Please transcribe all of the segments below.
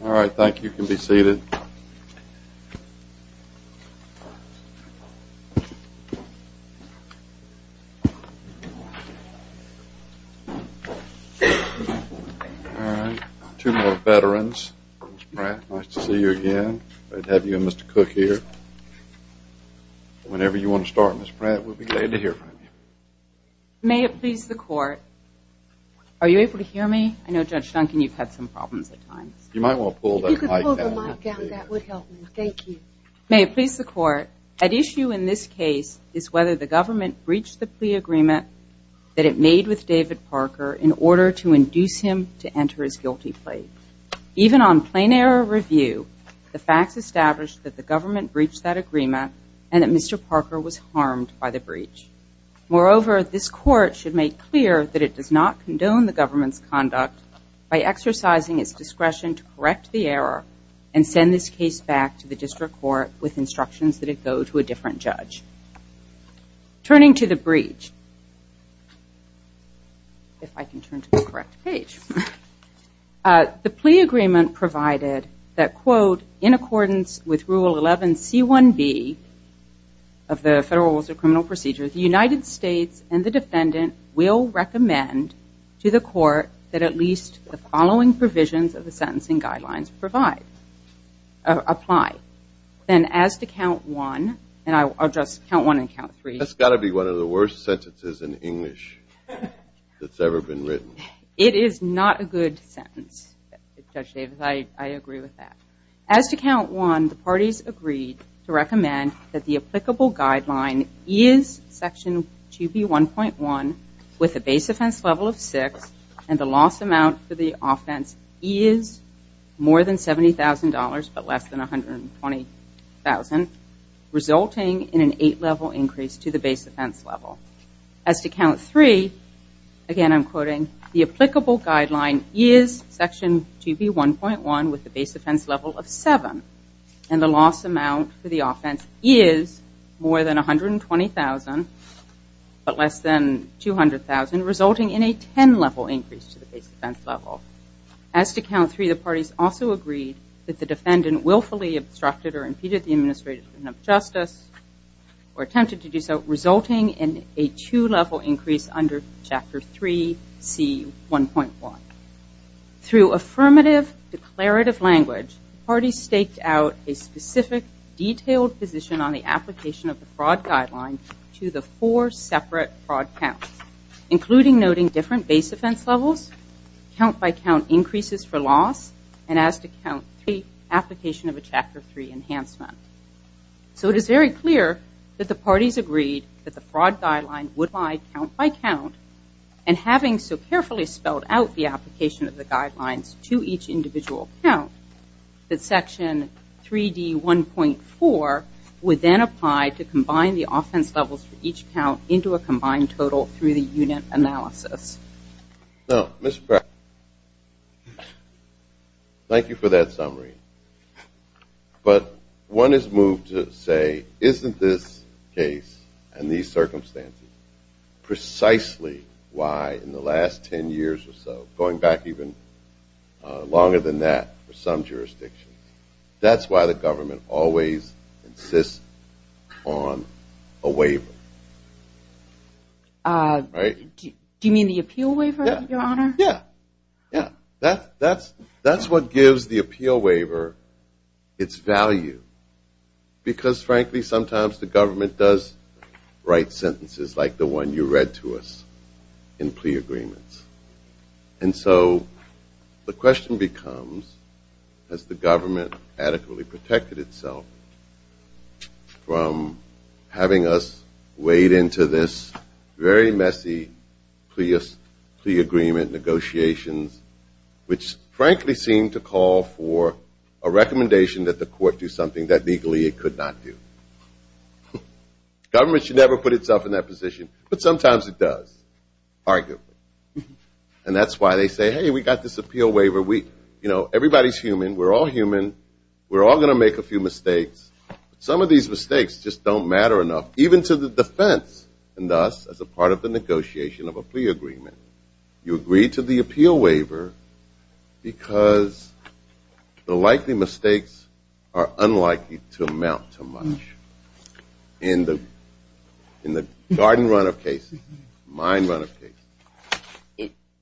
All right, thank you. You can be seated. All right, two more veterans. Ms. Pratt, nice to see you again. Whenever you want to start, Ms. Pratt, we'll be glad to hear from you. May it please the Court, are you able to hear me? I know, Judge Duncan, you've had some problems at times. You might want to pull the mic down. May it please the Court, at issue in this case is whether the government breached the plea agreement that it made with David Parker in order to induce him to enter his guilty plea. Even on plain error review, the facts establish that the government breached that agreement and that Mr. Parker was harmed by the breach. Moreover, this Court should make clear that it does not condone the government's conduct by exercising its discretion to correct the error and send this case back to the district court with instructions that it go to a different judge. Turning to the breach, if I can turn to the correct page. The plea agreement provided that, quote, in accordance with Rule 11C1B of the Federal Rules of Criminal Procedure, the United States and the defendant will recommend to the court that at least the following provisions of the sentencing guidelines apply. Then as to count one, and I'll address count one and count three. That's got to be one of the worst sentences in English that's ever been written. It is not a good sentence, Judge Davis. I agree with that. As to count one, the parties agreed to recommend that the applicable guideline is Section 2B1.1 with a base offense level of six and the loss amount for the offense is more than $70,000 but less than $120,000, resulting in an eight-level increase to the base offense level. As to count three, again, I'm quoting, the applicable guideline is Section 2B1.1 with a base offense level of seven and the loss amount for the offense is more than $120,000 but less than $200,000, resulting in a ten-level increase to the base offense level. As to count three, the parties also agreed that the defendant willfully obstructed or impeded the administration of justice or attempted to do so, resulting in a two-level increase under Chapter 3C1.1. Through affirmative declarative language, the parties staked out a specific detailed position on the application of the fraud guideline to the four separate fraud counts, including noting different base offense levels, count-by-count increases for loss, and as to count three, application of a Chapter 3 enhancement. So it is very clear that the parties agreed that the fraud guideline would lie count-by-count, and having so carefully spelled out the application of the guidelines to each individual count, that Section 3D1.4 would then apply to combine the offense levels for each count into a combined total through the unit analysis. Thank you for that summary. But one is moved to say, isn't this case and these circumstances precisely why in the last ten years or so, going back even longer than that for some jurisdictions, that's why the government always insists on a waiver? Do you mean the appeal waiver, Your Honor? Yeah, yeah. That's what gives the appeal waiver its value. Because frankly, sometimes the government does write sentences like the one you read to us in plea agreements. And so the question becomes, has the government adequately protected itself from having us wade into this very messy plea agreement negotiations, which frankly seem to call for a recommendation that the court do something that legally it could not do. Government should never put itself in that position. But sometimes it does, arguably. And that's why they say, hey, we got this appeal waiver. Everybody's human. We're all human. We're all going to make a few mistakes. Some of these mistakes just don't matter enough, even to the defense and thus as a part of the negotiation of a plea agreement. You agreed to the appeal waiver because the likely mistakes are unlikely to amount to much in the garden run of cases, mine run of cases.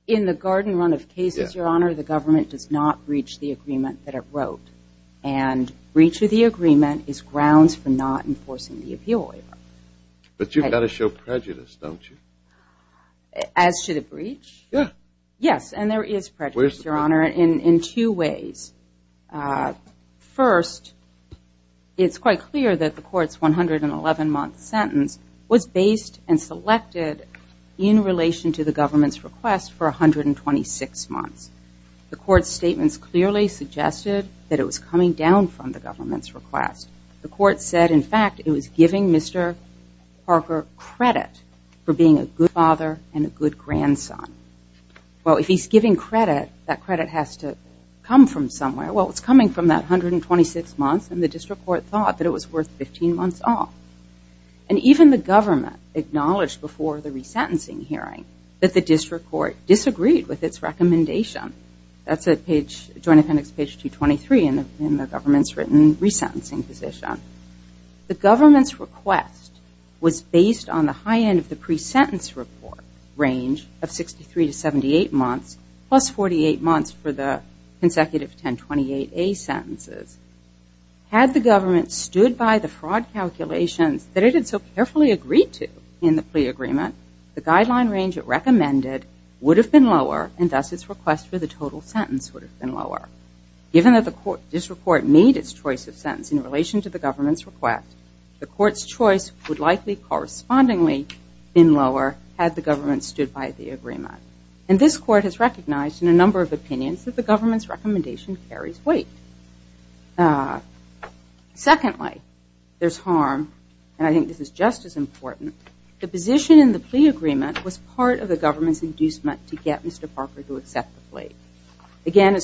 In the garden run of cases, Your Honor, the government does not breach the agreement that it wrote. And breach of the agreement is grounds for not enforcing the appeal waiver. But you've got to show prejudice, don't you? As to the breach? Yes. Yes, and there is prejudice, Your Honor, in two ways. First, it's quite clear that the court's 111-month sentence was based and selected in relation to the government's request for 126 months. The court's statements clearly suggested that it was coming down from the government's request. The court said, in fact, it was giving Mr. Parker credit for being a good father and a good grandson. Well, if he's giving credit, that credit has to come from somewhere. Well, it's coming from that 126 months and the district court thought that it was worth 15 months off. And even the government acknowledged before the resentencing hearing that the district court disagreed with its recommendation. That's at page, Joint Appendix page 223 in the government's written resentencing position. The government's request was based on the high end of the pre-sentence report range of 63 to 78 months plus 48 months for the consecutive 1028A sentences. Had the government stood by the fraud calculations that it had so carefully agreed to in the plea agreement, the guideline range it recommended would have been lower and thus its request for the total sentence would have been lower. Given that the district court made its choice of sentence in relation to the government's request, the court's choice would likely correspondingly been lower had the government stood by the agreement. And this court has recognized in a number of opinions that the government's recommendation carries weight. Secondly, there's harm and I think this is just as important. The position in the plea agreement was part of the government's inducement to get Mr. Parker to accept the plea. Again,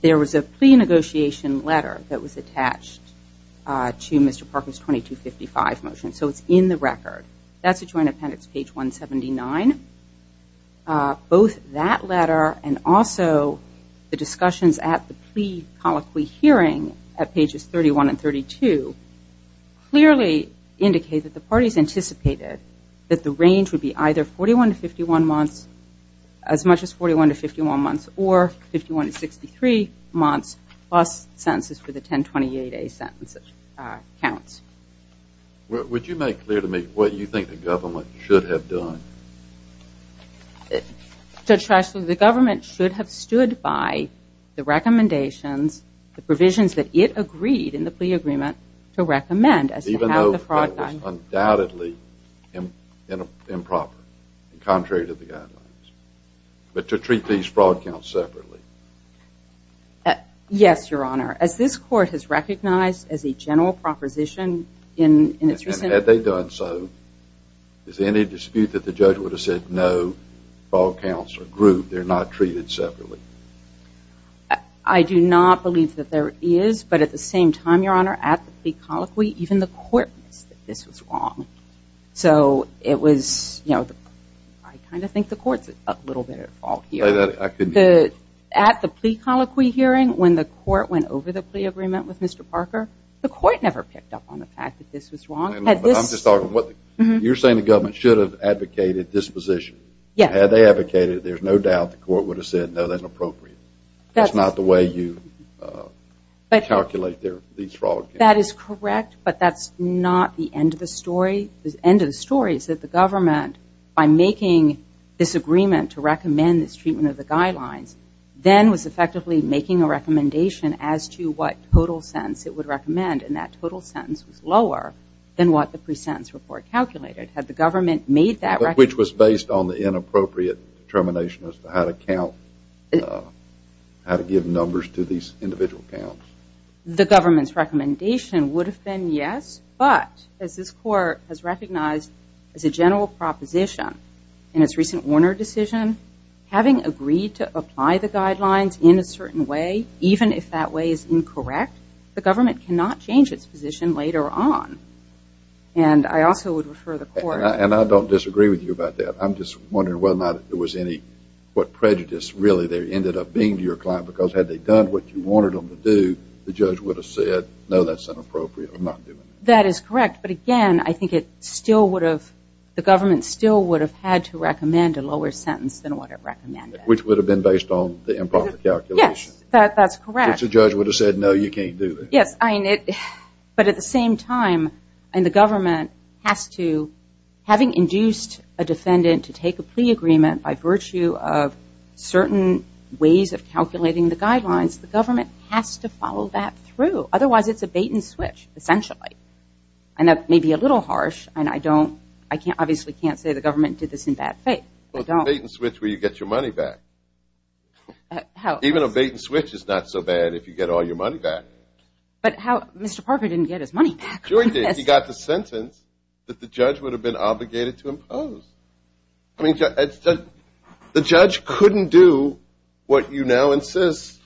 there was a plea negotiation letter that was attached to Mr. Parker's 2255 motion so it's in the record. That's at Joint Appendix page 179. Both that letter and also the discussions at the plea colloquy hearing at pages 31 and 32 clearly indicate that the parties anticipated that the range would be either 41 to 51 months, as much as 41 to 51 months, or 51 to 63 months plus sentences for the 1028A sentences. Would you make clear to me what you think the government should have done? Judge Shrestha, the government should have stood by the recommendations, the provisions that it agreed in the plea agreement to recommend. Even though it was undoubtedly improper and contrary to the guidelines. But to treat these fraud counts separately? Yes, Your Honor. As this court has recognized as a general proposition in its recent... And had they done so, is there any dispute that the judge would have said no, fraud counts are grouped, they're not treated separately? I do not believe that there is. But at the same time, Your Honor, at the plea colloquy, even the court missed that this was wrong. So it was, you know, I kind of think the court's a little bit at fault here. At the plea colloquy hearing, when the court went over the plea agreement with Mr. Parker, the court never picked up on the fact that this was wrong. You're saying the government should have advocated disposition. Had they advocated, there's no doubt the court would have said no, that's inappropriate. That's not the way you calculate these fraud counts. I think that is correct, but that's not the end of the story. The end of the story is that the government, by making this agreement to recommend this treatment of the guidelines, then was effectively making a recommendation as to what total sentence it would recommend. And that total sentence was lower than what the pre-sentence report calculated. Had the government made that... Which was based on the inappropriate determination as to how to count, how to give numbers to these individual counts. The government's recommendation would have been yes. But, as this court has recognized as a general proposition in its recent Warner decision, having agreed to apply the guidelines in a certain way, even if that way is incorrect, the government cannot change its position later on. And I also would refer the court... And I don't disagree with you about that. I'm just wondering whether or not there was any... Really, there ended up being to your client, because had they done what you wanted them to do, the judge would have said, no, that's inappropriate. That is correct, but again, I think it still would have... The government still would have had to recommend a lower sentence than what it recommended. Which would have been based on the improper calculation. Yes, that's correct. The judge would have said, no, you can't do that. Yes, but at the same time, and the government has to... If you want a defendant to take a plea agreement by virtue of certain ways of calculating the guidelines, the government has to follow that through. Otherwise, it's a bait-and-switch, essentially. And that may be a little harsh, and I don't... I obviously can't say the government did this in bad faith. Well, it's a bait-and-switch where you get your money back. How... Even a bait-and-switch is not so bad if you get all your money back. But how... Mr. Parker didn't get his money back. He got the sentence that the judge would have been obligated to impose. I mean, the judge couldn't do what you now insist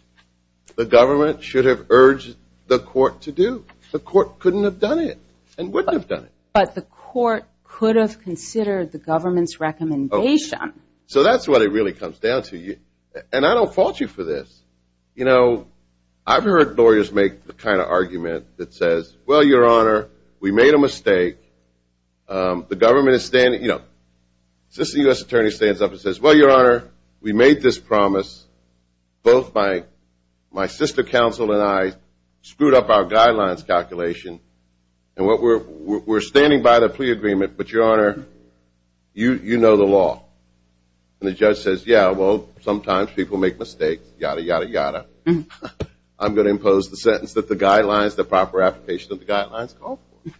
the government should have urged the court to do. The court couldn't have done it and wouldn't have done it. But the court could have considered the government's recommendation. So that's what it really comes down to. And I don't fault you for this. You know, I've heard lawyers make the kind of argument that says, well, Your Honor, we made a mistake. The government is standing... You know, since the U.S. Attorney stands up and says, well, Your Honor, we made this promise, both my sister counsel and I screwed up our guidelines calculation, and we're standing by the plea agreement, but, Your Honor, you know the law. And the judge says, yeah, well, sometimes people make mistakes. Yada, yada, yada. I'm going to impose the sentence that the guidelines, the proper application of the guidelines call for.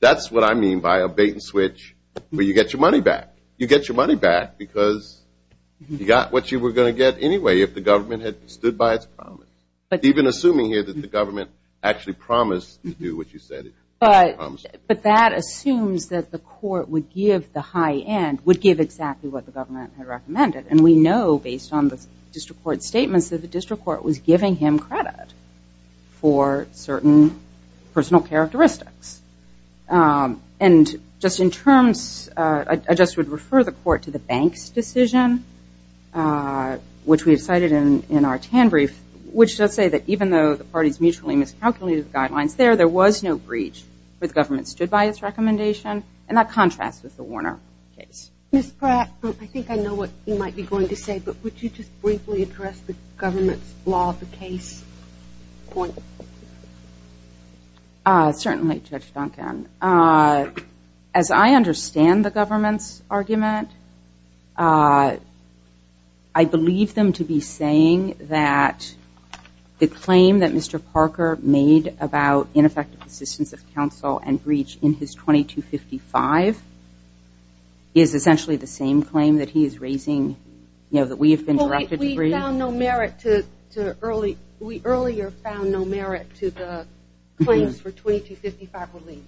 That's what I mean by a bait and switch where you get your money back. You get your money back because you got what you were going to get anyway if the government had stood by its promise. Even assuming here that the government actually promised to do what you said it promised. But that assumes that the court would give the high end, would give exactly what the government had recommended. And we know based on the district court statements that the district court was giving him credit for certain personal characteristics. And just in terms, I just would refer the court to the bank's decision, which we have cited in our TAN brief, which does say that even though the parties mutually miscalculated the guidelines there, there was no breach where the government stood by its recommendation. And that contrasts with the Warner case. Ms. Pratt, I think I know what you might be going to say, but would you just briefly address the government's law of the case point? Certainly, Judge Duncan. As I understand the government's argument, I believe them to be saying that the claim that Mr. Parker made about ineffective assistance of counsel and breach in his 2255 is essentially the same claim that he is raising, you know, that we have been directed to bring. Well, we found no merit to early, we earlier found no merit to the claims for 2255 relief.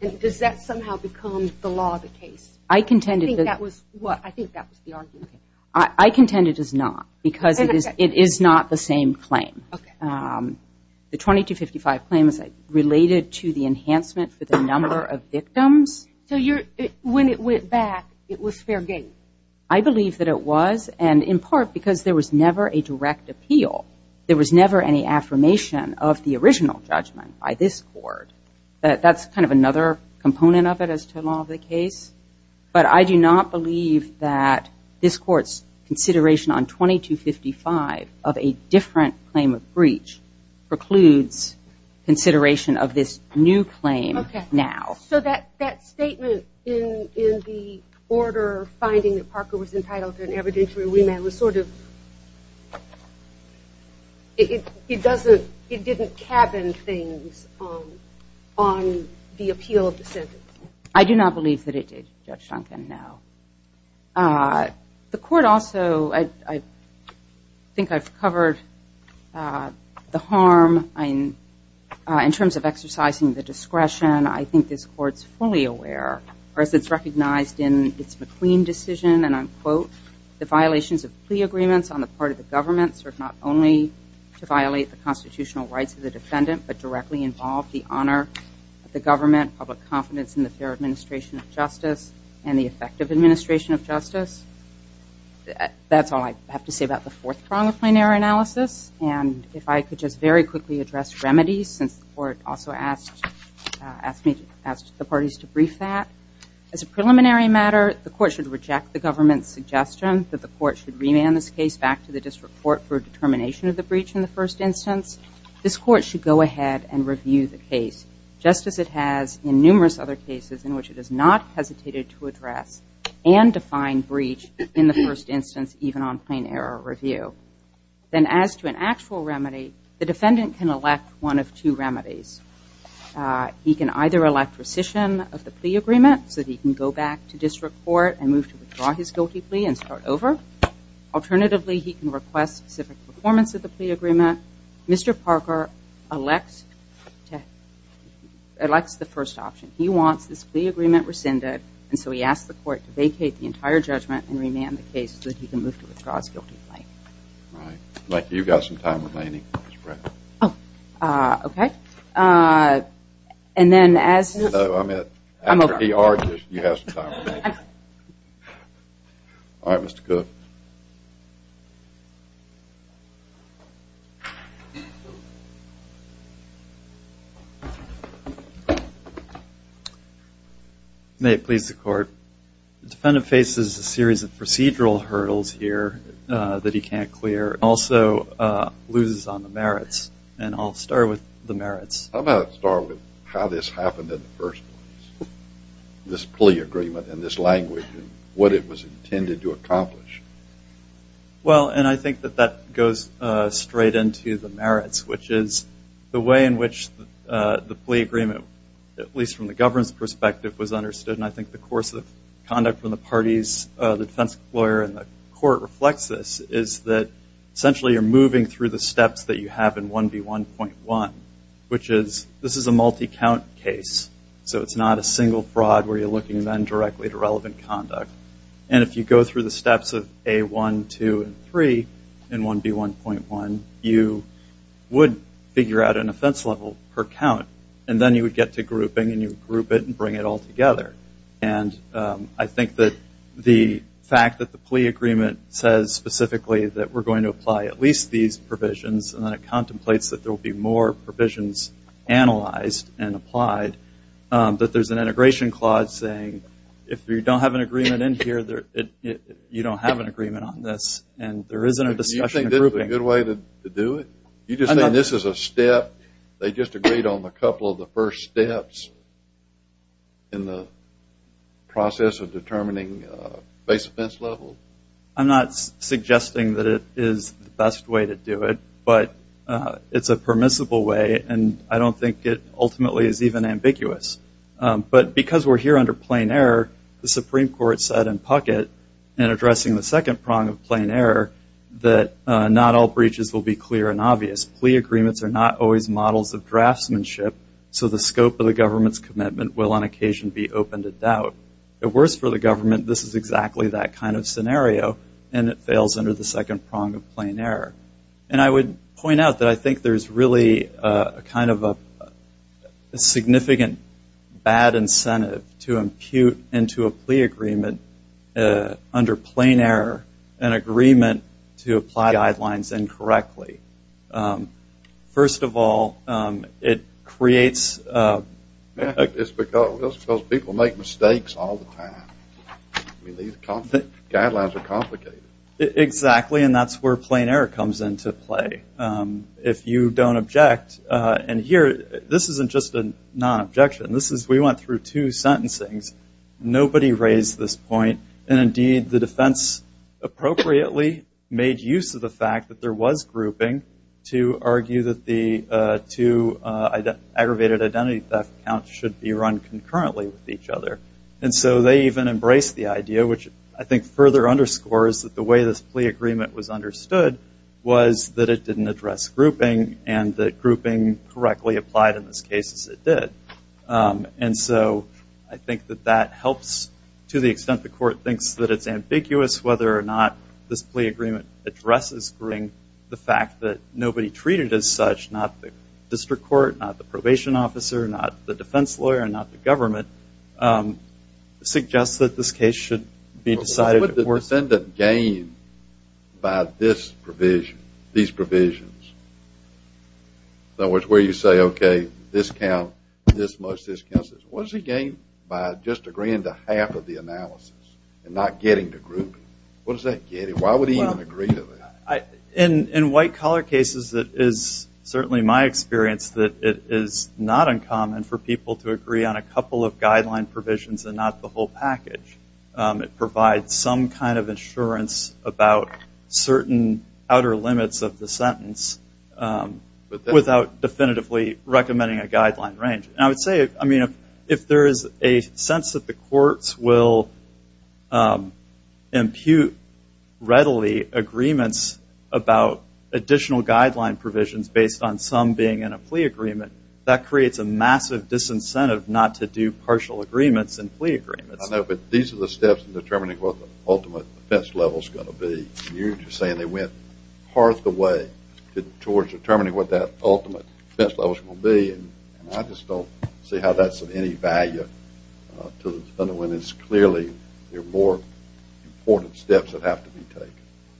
And does that somehow become the law of the case? I contend it does. I think that was the argument. I contend it does not because it is not the same claim. Okay. The 2255 claim is related to the enhancement for the number of victims. So when it went back, it was fair game? I believe that it was, and in part because there was never a direct appeal. There was never any affirmation of the original judgment by this court. That's kind of another component of it as to the law of the case. But I do not believe that this court's consideration on 2255 of a different claim of breach precludes consideration of this new claim now. So that statement in the order, finding that Parker was entitled to an evidentiary remand, was sort of, it didn't cabin things on the appeal of the sentence. I do not believe that it did, Judge Duncan, no. The court also, I think I've covered the harm in terms of exercising the discretion. The court's fully aware, or as it's recognized in its McQueen decision, and I'll quote, the violations of plea agreements on the part of the government serve not only to violate the constitutional rights of the defendant, but directly involve the honor of the government, public confidence in the fair administration of justice, and the effective administration of justice. That's all I have to say about the fourth prong of plenary analysis. And if I could just very quickly address remedies, since the court also asked the parties to brief that. As a preliminary matter, the court should reject the government's suggestion that the court should remand this case back to the district court for determination of the breach in the first instance. This court should go ahead and review the case, just as it has in numerous other cases in which it has not hesitated to address and define breach in the first instance, even on plain error review. Then as to an actual remedy, the defendant can elect one of two remedies. He can either elect rescission of the plea agreement so that he can go back to district court and move to withdraw his guilty plea and start over. Alternatively, he can request specific performance of the plea agreement. Mr. Parker elects the first option. He wants this plea agreement rescinded, and so he asks the court to vacate the entire judgment and remand the case so that he can move to withdraw his guilty plea. Thank you. You've got some time remaining, Ms. Brown. Okay. And then as... I'm over. After he argues, you have some time remaining. All right, Mr. Cook. May it please the court. The defendant faces a series of procedural hurdles here that he can't clear, and also loses on the merits, and I'll start with the merits. How about I start with how this happened in the first place, this plea agreement and this language and what it was intended to accomplish? Well, and I think that that goes straight into the merits, which is the way in which the plea agreement, at least from the government's perspective, was understood, and I think the course of conduct from the parties, the defense lawyer and the court reflects this, is that essentially you're moving through the steps that you have in 1B1.1, which is this is a multi-count case, so it's not a single fraud where you're looking then directly at irrelevant conduct, and if you go through the steps of A1, 2, and 3 in 1B1.1, you would figure out an offense level per count, and then you would get to grouping, and you would group it and bring it all together, and I think that the fact that the plea agreement says specifically that we're going to apply at least these provisions, and then it contemplates that there will be more provisions analyzed and applied, that there's an integration clause saying if you don't have an agreement in here, you don't have an agreement on this, and there isn't a discussion of grouping. Do you think this is a good way to do it? You just think this is a step? They just agreed on a couple of the first steps in the process of determining base offense level? I'm not suggesting that it is the best way to do it, but it's a permissible way, and I don't think it ultimately is even ambiguous, but because we're here under plain error, the Supreme Court said in Puckett in addressing the second prong of plain error that not all breaches will be clear and obvious. Plea agreements are not always models of draftsmanship, so the scope of the government's commitment will on occasion be open to doubt. At worst for the government, this is exactly that kind of scenario, and it fails under the second prong of plain error, and I would point out that I think there's really a kind of a significant bad incentive to impute into a plea agreement under plain error an agreement to apply guidelines incorrectly. First of all, it creates... It's because people make mistakes all the time. Guidelines are complicated. Exactly, and that's where plain error comes into play. If you don't object, and here, this isn't just a non-objection. We went through two sentencings. Nobody raised this point, and indeed the defense appropriately made use of the fact that there was grouping to argue that the two aggravated identity theft counts should be run concurrently with each other, and so they even embraced the idea, which I think further underscores that the way this plea agreement was understood was that it didn't address grouping, and that grouping correctly applied in this case, as it did, and so I think that that helps to the extent the court thinks that it's ambiguous whether or not this plea agreement addresses grouping. The fact that nobody treated it as such, not the district court, not the probation officer, not the defense lawyer, and not the government, suggests that this case should be decided... What would the defendant gain by this provision, these provisions? In other words, where you say, okay, this counts this much, this counts this much. What does he gain by just agreeing to half of the analysis and not getting to grouping? What does that get him? Why would he even agree to that? In white-collar cases, it is certainly my experience that it is not uncommon for people to agree on a couple of guideline provisions and not the whole package. It provides some kind of assurance about certain outer limits of the sentence without definitively recommending a guideline range. And I would say, if there is a sense that the courts will impute readily agreements about additional guideline provisions based on some being in a plea agreement, that creates a massive disincentive not to do partial agreements and plea agreements. I know, but these are the steps in determining what the ultimate defense level is going to be. You are just saying they went part of the way towards determining what that ultimate defense level is going to be. I just don't see how that is of any value unless, clearly, there are more important steps that have to be taken.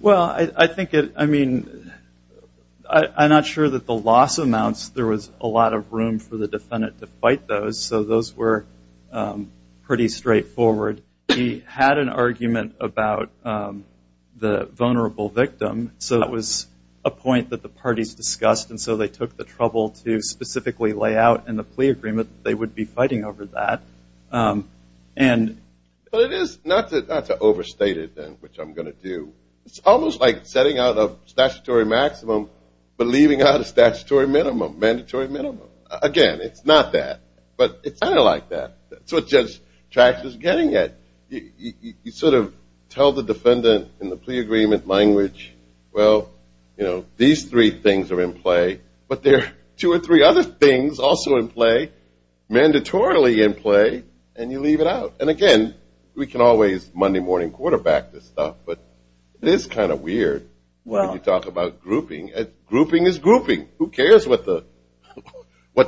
Well, I think, I mean, I'm not sure that the loss amounts, there was a lot of room for the defendant to fight those, so those were pretty straightforward. He had an argument about the vulnerable victim, so that was a point that the parties discussed, and so they took the trouble to specifically lay out in the plea agreement what they would be fighting over that. And... Well, it is not to overstate it, which I'm going to do. It's almost like setting out a statutory maximum, but leaving out a statutory minimum, mandatory minimum. Again, it's not that, but it's kind of like that. That's what Judge Trax is getting at. You sort of tell the defendant in the plea agreement language, well, you know, these three things are in play, mandatorily in play, and you leave it out. And again, we can always Monday morning quarterback this stuff, but it is kind of weird when you talk about grouping. Grouping is grouping. Who cares what the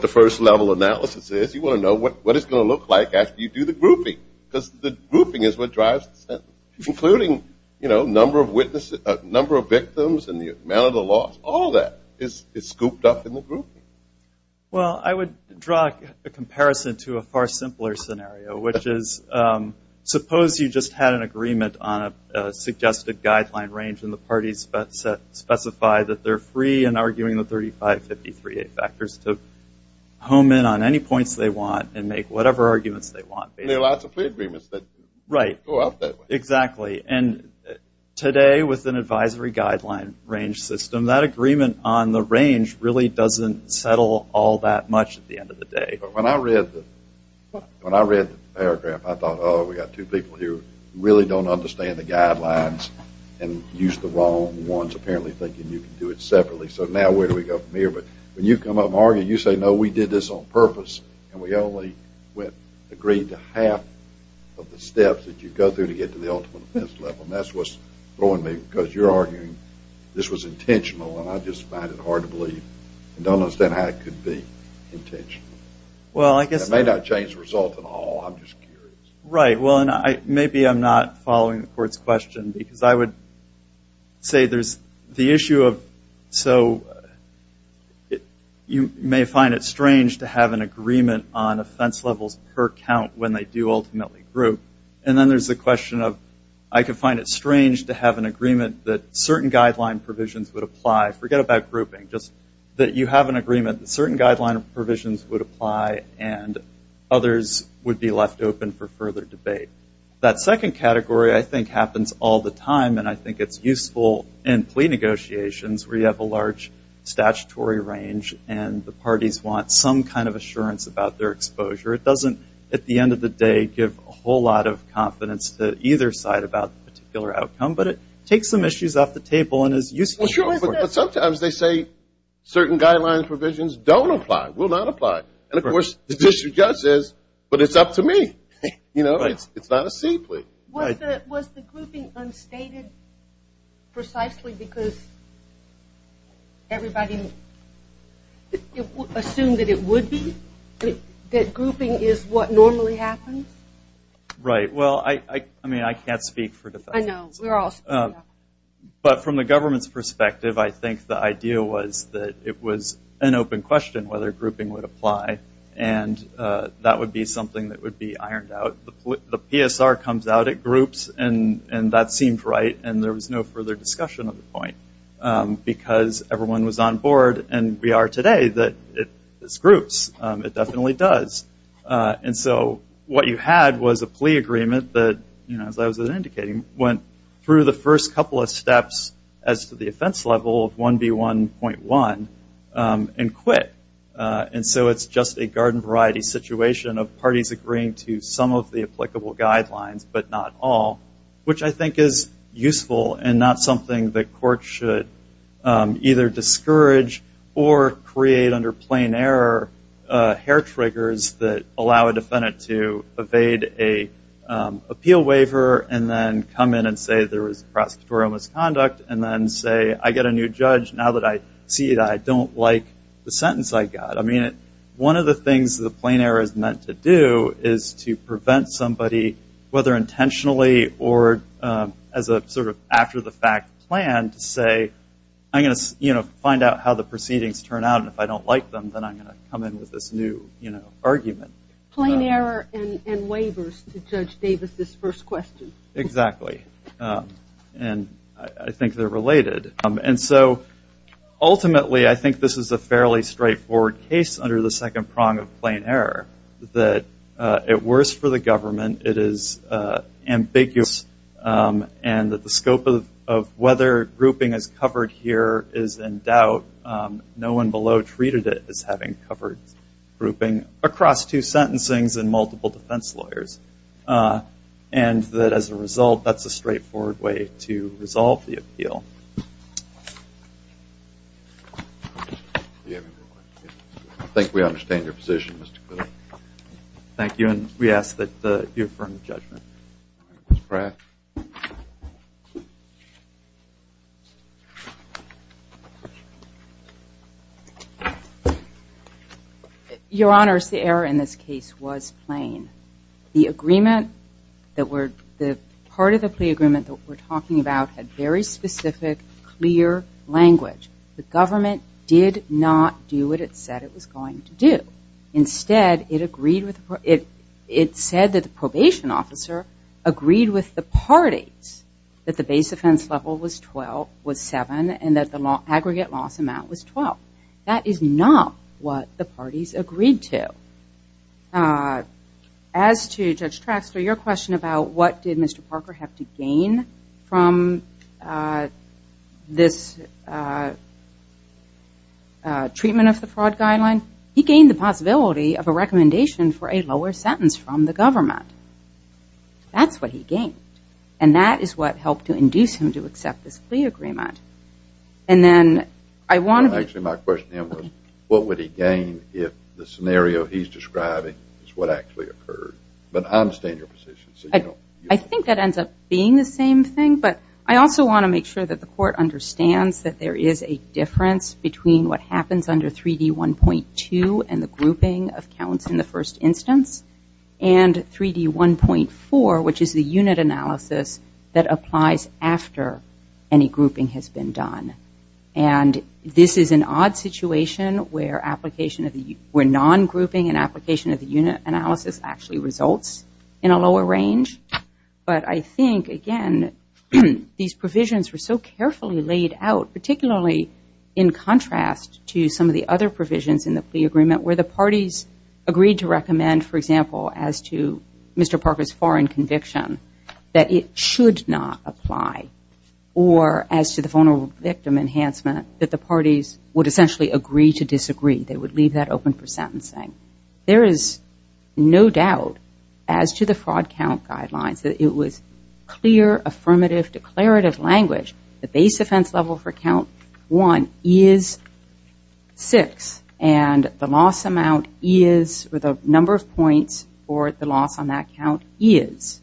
first level analysis is? You want to know what it's going to look like after you do the grouping, because the grouping is what drives the sentence, including, you know, number of victims and the amount of the loss. All that is scooped up in the grouping. Let me give you a comparison to a far simpler scenario, which is suppose you just had an agreement on a suggested guideline range, and the parties specify that they're free in arguing the 3553A factors to home in on any points they want and make whatever arguments they want. There are lots of plea agreements that go out that way. Right. Exactly. And today, with an advisory guideline range system, that agreement on the range really doesn't settle all that much because when I read the paragraph, I thought, oh, we've got two people here who really don't understand the guidelines and use the wrong ones, apparently thinking you can do it separately, so now where do we go from here? But when you come up and argue, you say, no, we did this on purpose and we only agreed to half of the steps that you go through to get to the ultimate offense level, and that's what's throwing me because you're arguing this was intentional and I just find it hard to believe and it may not change the result at all. I'm just curious. Right. Well, and maybe I'm not following the court's question because I would say there's the issue of, so you may find it strange to have an agreement on offense levels per count when they do ultimately group, and then there's the question of, I could find it strange to have an agreement that certain guideline provisions would apply. Forget about grouping. Just that you have an agreement and others would be left open for further debate. That second category, I think, happens all the time and I think it's useful in plea negotiations where you have a large statutory range and the parties want some kind of assurance about their exposure. It doesn't, at the end of the day, give a whole lot of confidence to either side about the particular outcome, but it takes some issues off the table and is useful. Well, sure, but sometimes they say the issue does exist, but it's up to me. It's not a sea plea. Was the grouping unstated precisely because everybody assumed that it would be, that grouping is what normally happens? Right. Well, I can't speak for defense. I know. But from the government's perspective, I think the idea was that it was an open question whether grouping would apply and that would be something that would be ironed out. The PSR comes out at groups and that seems right and there was no further discussion of the point because everyone was on board and we are today that it's groups. It definitely does. And so what you had was a plea agreement that, as I was indicating, went through the first couple of steps as to the offense level and so it's just a garden variety situation of parties agreeing to some of the applicable guidelines, but not all, which I think is useful and not something that courts should either discourage or create under plain error hair triggers that allow a defendant to evade an appeal waiver and then come in and say there was prosecutorial misconduct and then say, I get a new judge and now that I see it I don't like the sentence I got. One of the things that the plain error is meant to do is to prevent somebody, whether intentionally or as a sort of after the fact plan to say, I'm going to find out how the proceedings turn out and if I don't like them then I'm going to come in with this new argument. Plain error and waivers to Judge Davis' first question. Exactly. And I think they're related. And so ultimately I think this is a fairly straightforward case under the second prong of plain error that at worst for the government it is ambiguous and that the scope of whether grouping is covered here is in doubt. No one below treated it as having covered grouping across two sentencing and multiple defense lawyers and that as a result that's a straightforward way to resolve the appeal. I think we understand your position, Mr. Kudlow. Thank you and we ask that you affirm the judgment. Ms. Pratt. Your Honor, the error in this case was plain. The part of the plea agreement that we're talking about had very specific, clear language. The government did not do what it said it was going to do. Instead it said that the probation officer agreed with the parties that the base offense level was seven and that the aggregate loss amount was 12. That is not what the parties agreed to. As to Judge Traxler, your question about what did Mr. Parker have to gain from this treatment of the fraud guideline, he gained the possibility of a recommendation for a lower sentence from the government. That's what he gained and that is what helped to induce him to accept this plea agreement. And then I want to Actually my question was what would he gain if the scenario he's describing is what actually occurred. But I understand your position. I think that ends up being the same thing but I also want to make sure that the court understands that there is a difference between what happens under 3D1.2 and the grouping of counts in the first instance and 3D1.4 which is the unit analysis that applies after any grouping has been done. And this is an odd situation where non-grouping and application of the unit analysis actually results in a lower range. But I think again these provisions were so carefully laid out particularly in contrast to some of the other provisions in the plea agreement where the parties agreed to recommend for example as to Mr. Parker's foreign conviction that it should not apply or as to the vulnerable victim enhancement that the parties would essentially agree to disagree. They would leave that open for sentencing. There is no doubt as to the fraud count guidelines that it was clear, affirmative, declarative language the base offense level for count one is six and the loss amount is, or the number of points for the loss on that count is.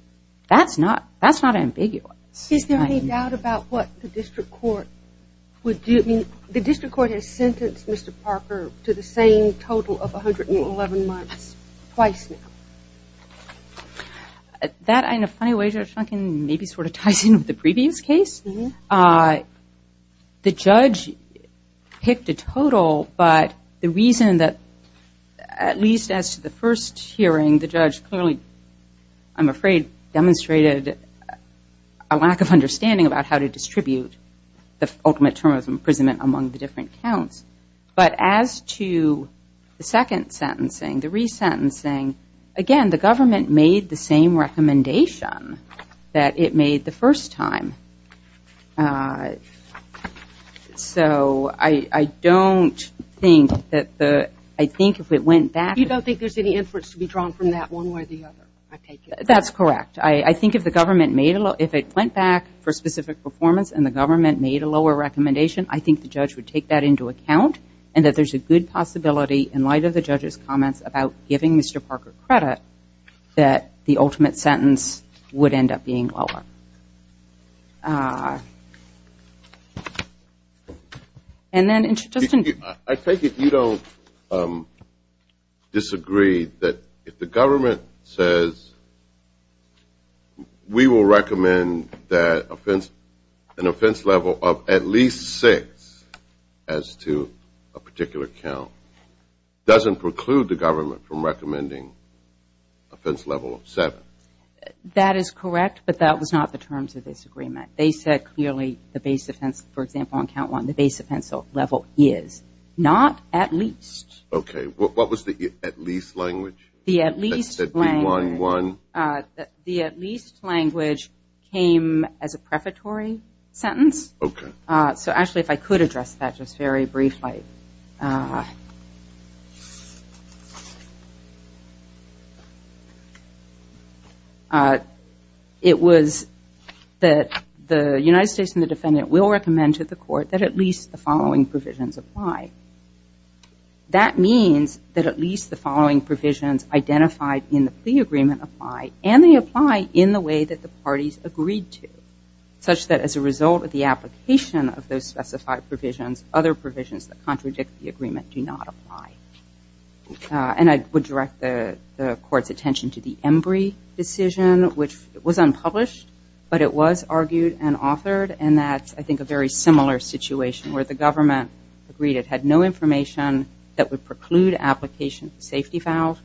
That's not ambiguous. Is there any doubt about what the district court would do? The district court has sentenced Mr. Parker to the same total of 111 months twice now. That in a funny way Judge Duncan maybe sort of ties in with the previous case. The judge picked a total but the reason that at least as to the first hearing the judge clearly I'm afraid demonstrated a lack of understanding about how to distribute the ultimate term of imprisonment among the different counts. But as to the second sentencing, the resentencing again the government made the same recommendation that it made the first time. So I don't think that the I think if it went back You don't think there's any inference to be drawn from that one way or the other? That's correct. I think if the government made if it went back for specific performance and the government made a lower recommendation I think the judge would take that into account and that there's a good possibility in light of the judge's comments about giving Mr. Parker credit that the ultimate sentence would end up being lower. And then I take it you don't disagree that if the government says we will recommend that an offense level of at least six as to a particular count doesn't preclude the government from recommending offense level of seven. That is correct but that was not the terms of this agreement. They said clearly the base offense for example on count one the base offense level is not at least. Okay. What was the at least language? The at least language came as a prefatory sentence. Okay. So actually if I could address that just very briefly. It was that the United States and the defendant will recommend to the court that at least the following provisions apply. That means that at least the following provisions identified in the plea agreement apply and they the way that the parties agreed to such that as a result of the application of those specified provisions other provisions that contradict the agreement do not apply. And I would direct the court's attention to the Embry decision which was unpublished but it was argued and authored and that's I think a very similar situation where the government agreed it had no information that would preclude application of the safety valve.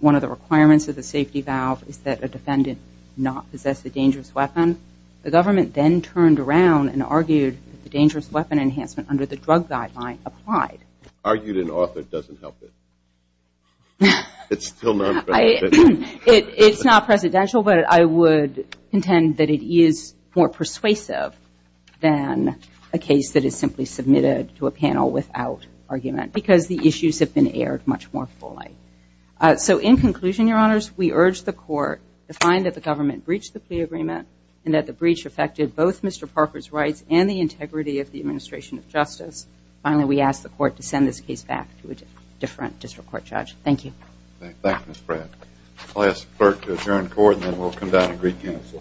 One of the requirements of the safety valve is that a defendant not possess a dangerous weapon. The government then turned around and argued that the dangerous weapon enhancement under the drug guideline applied. It's not presidential but I would intend that it is more persuasive than a case that is simply submitted to a panel without argument because the issues have been aired much more fully. So in conclusion we urge the court to find that the government breached the plea agreement and that the breach affected both Mr. Parker's rights and the integrity of the administration of justice. Finally we ask the court to that the government breached the integrity of the administration of justice. Thank you.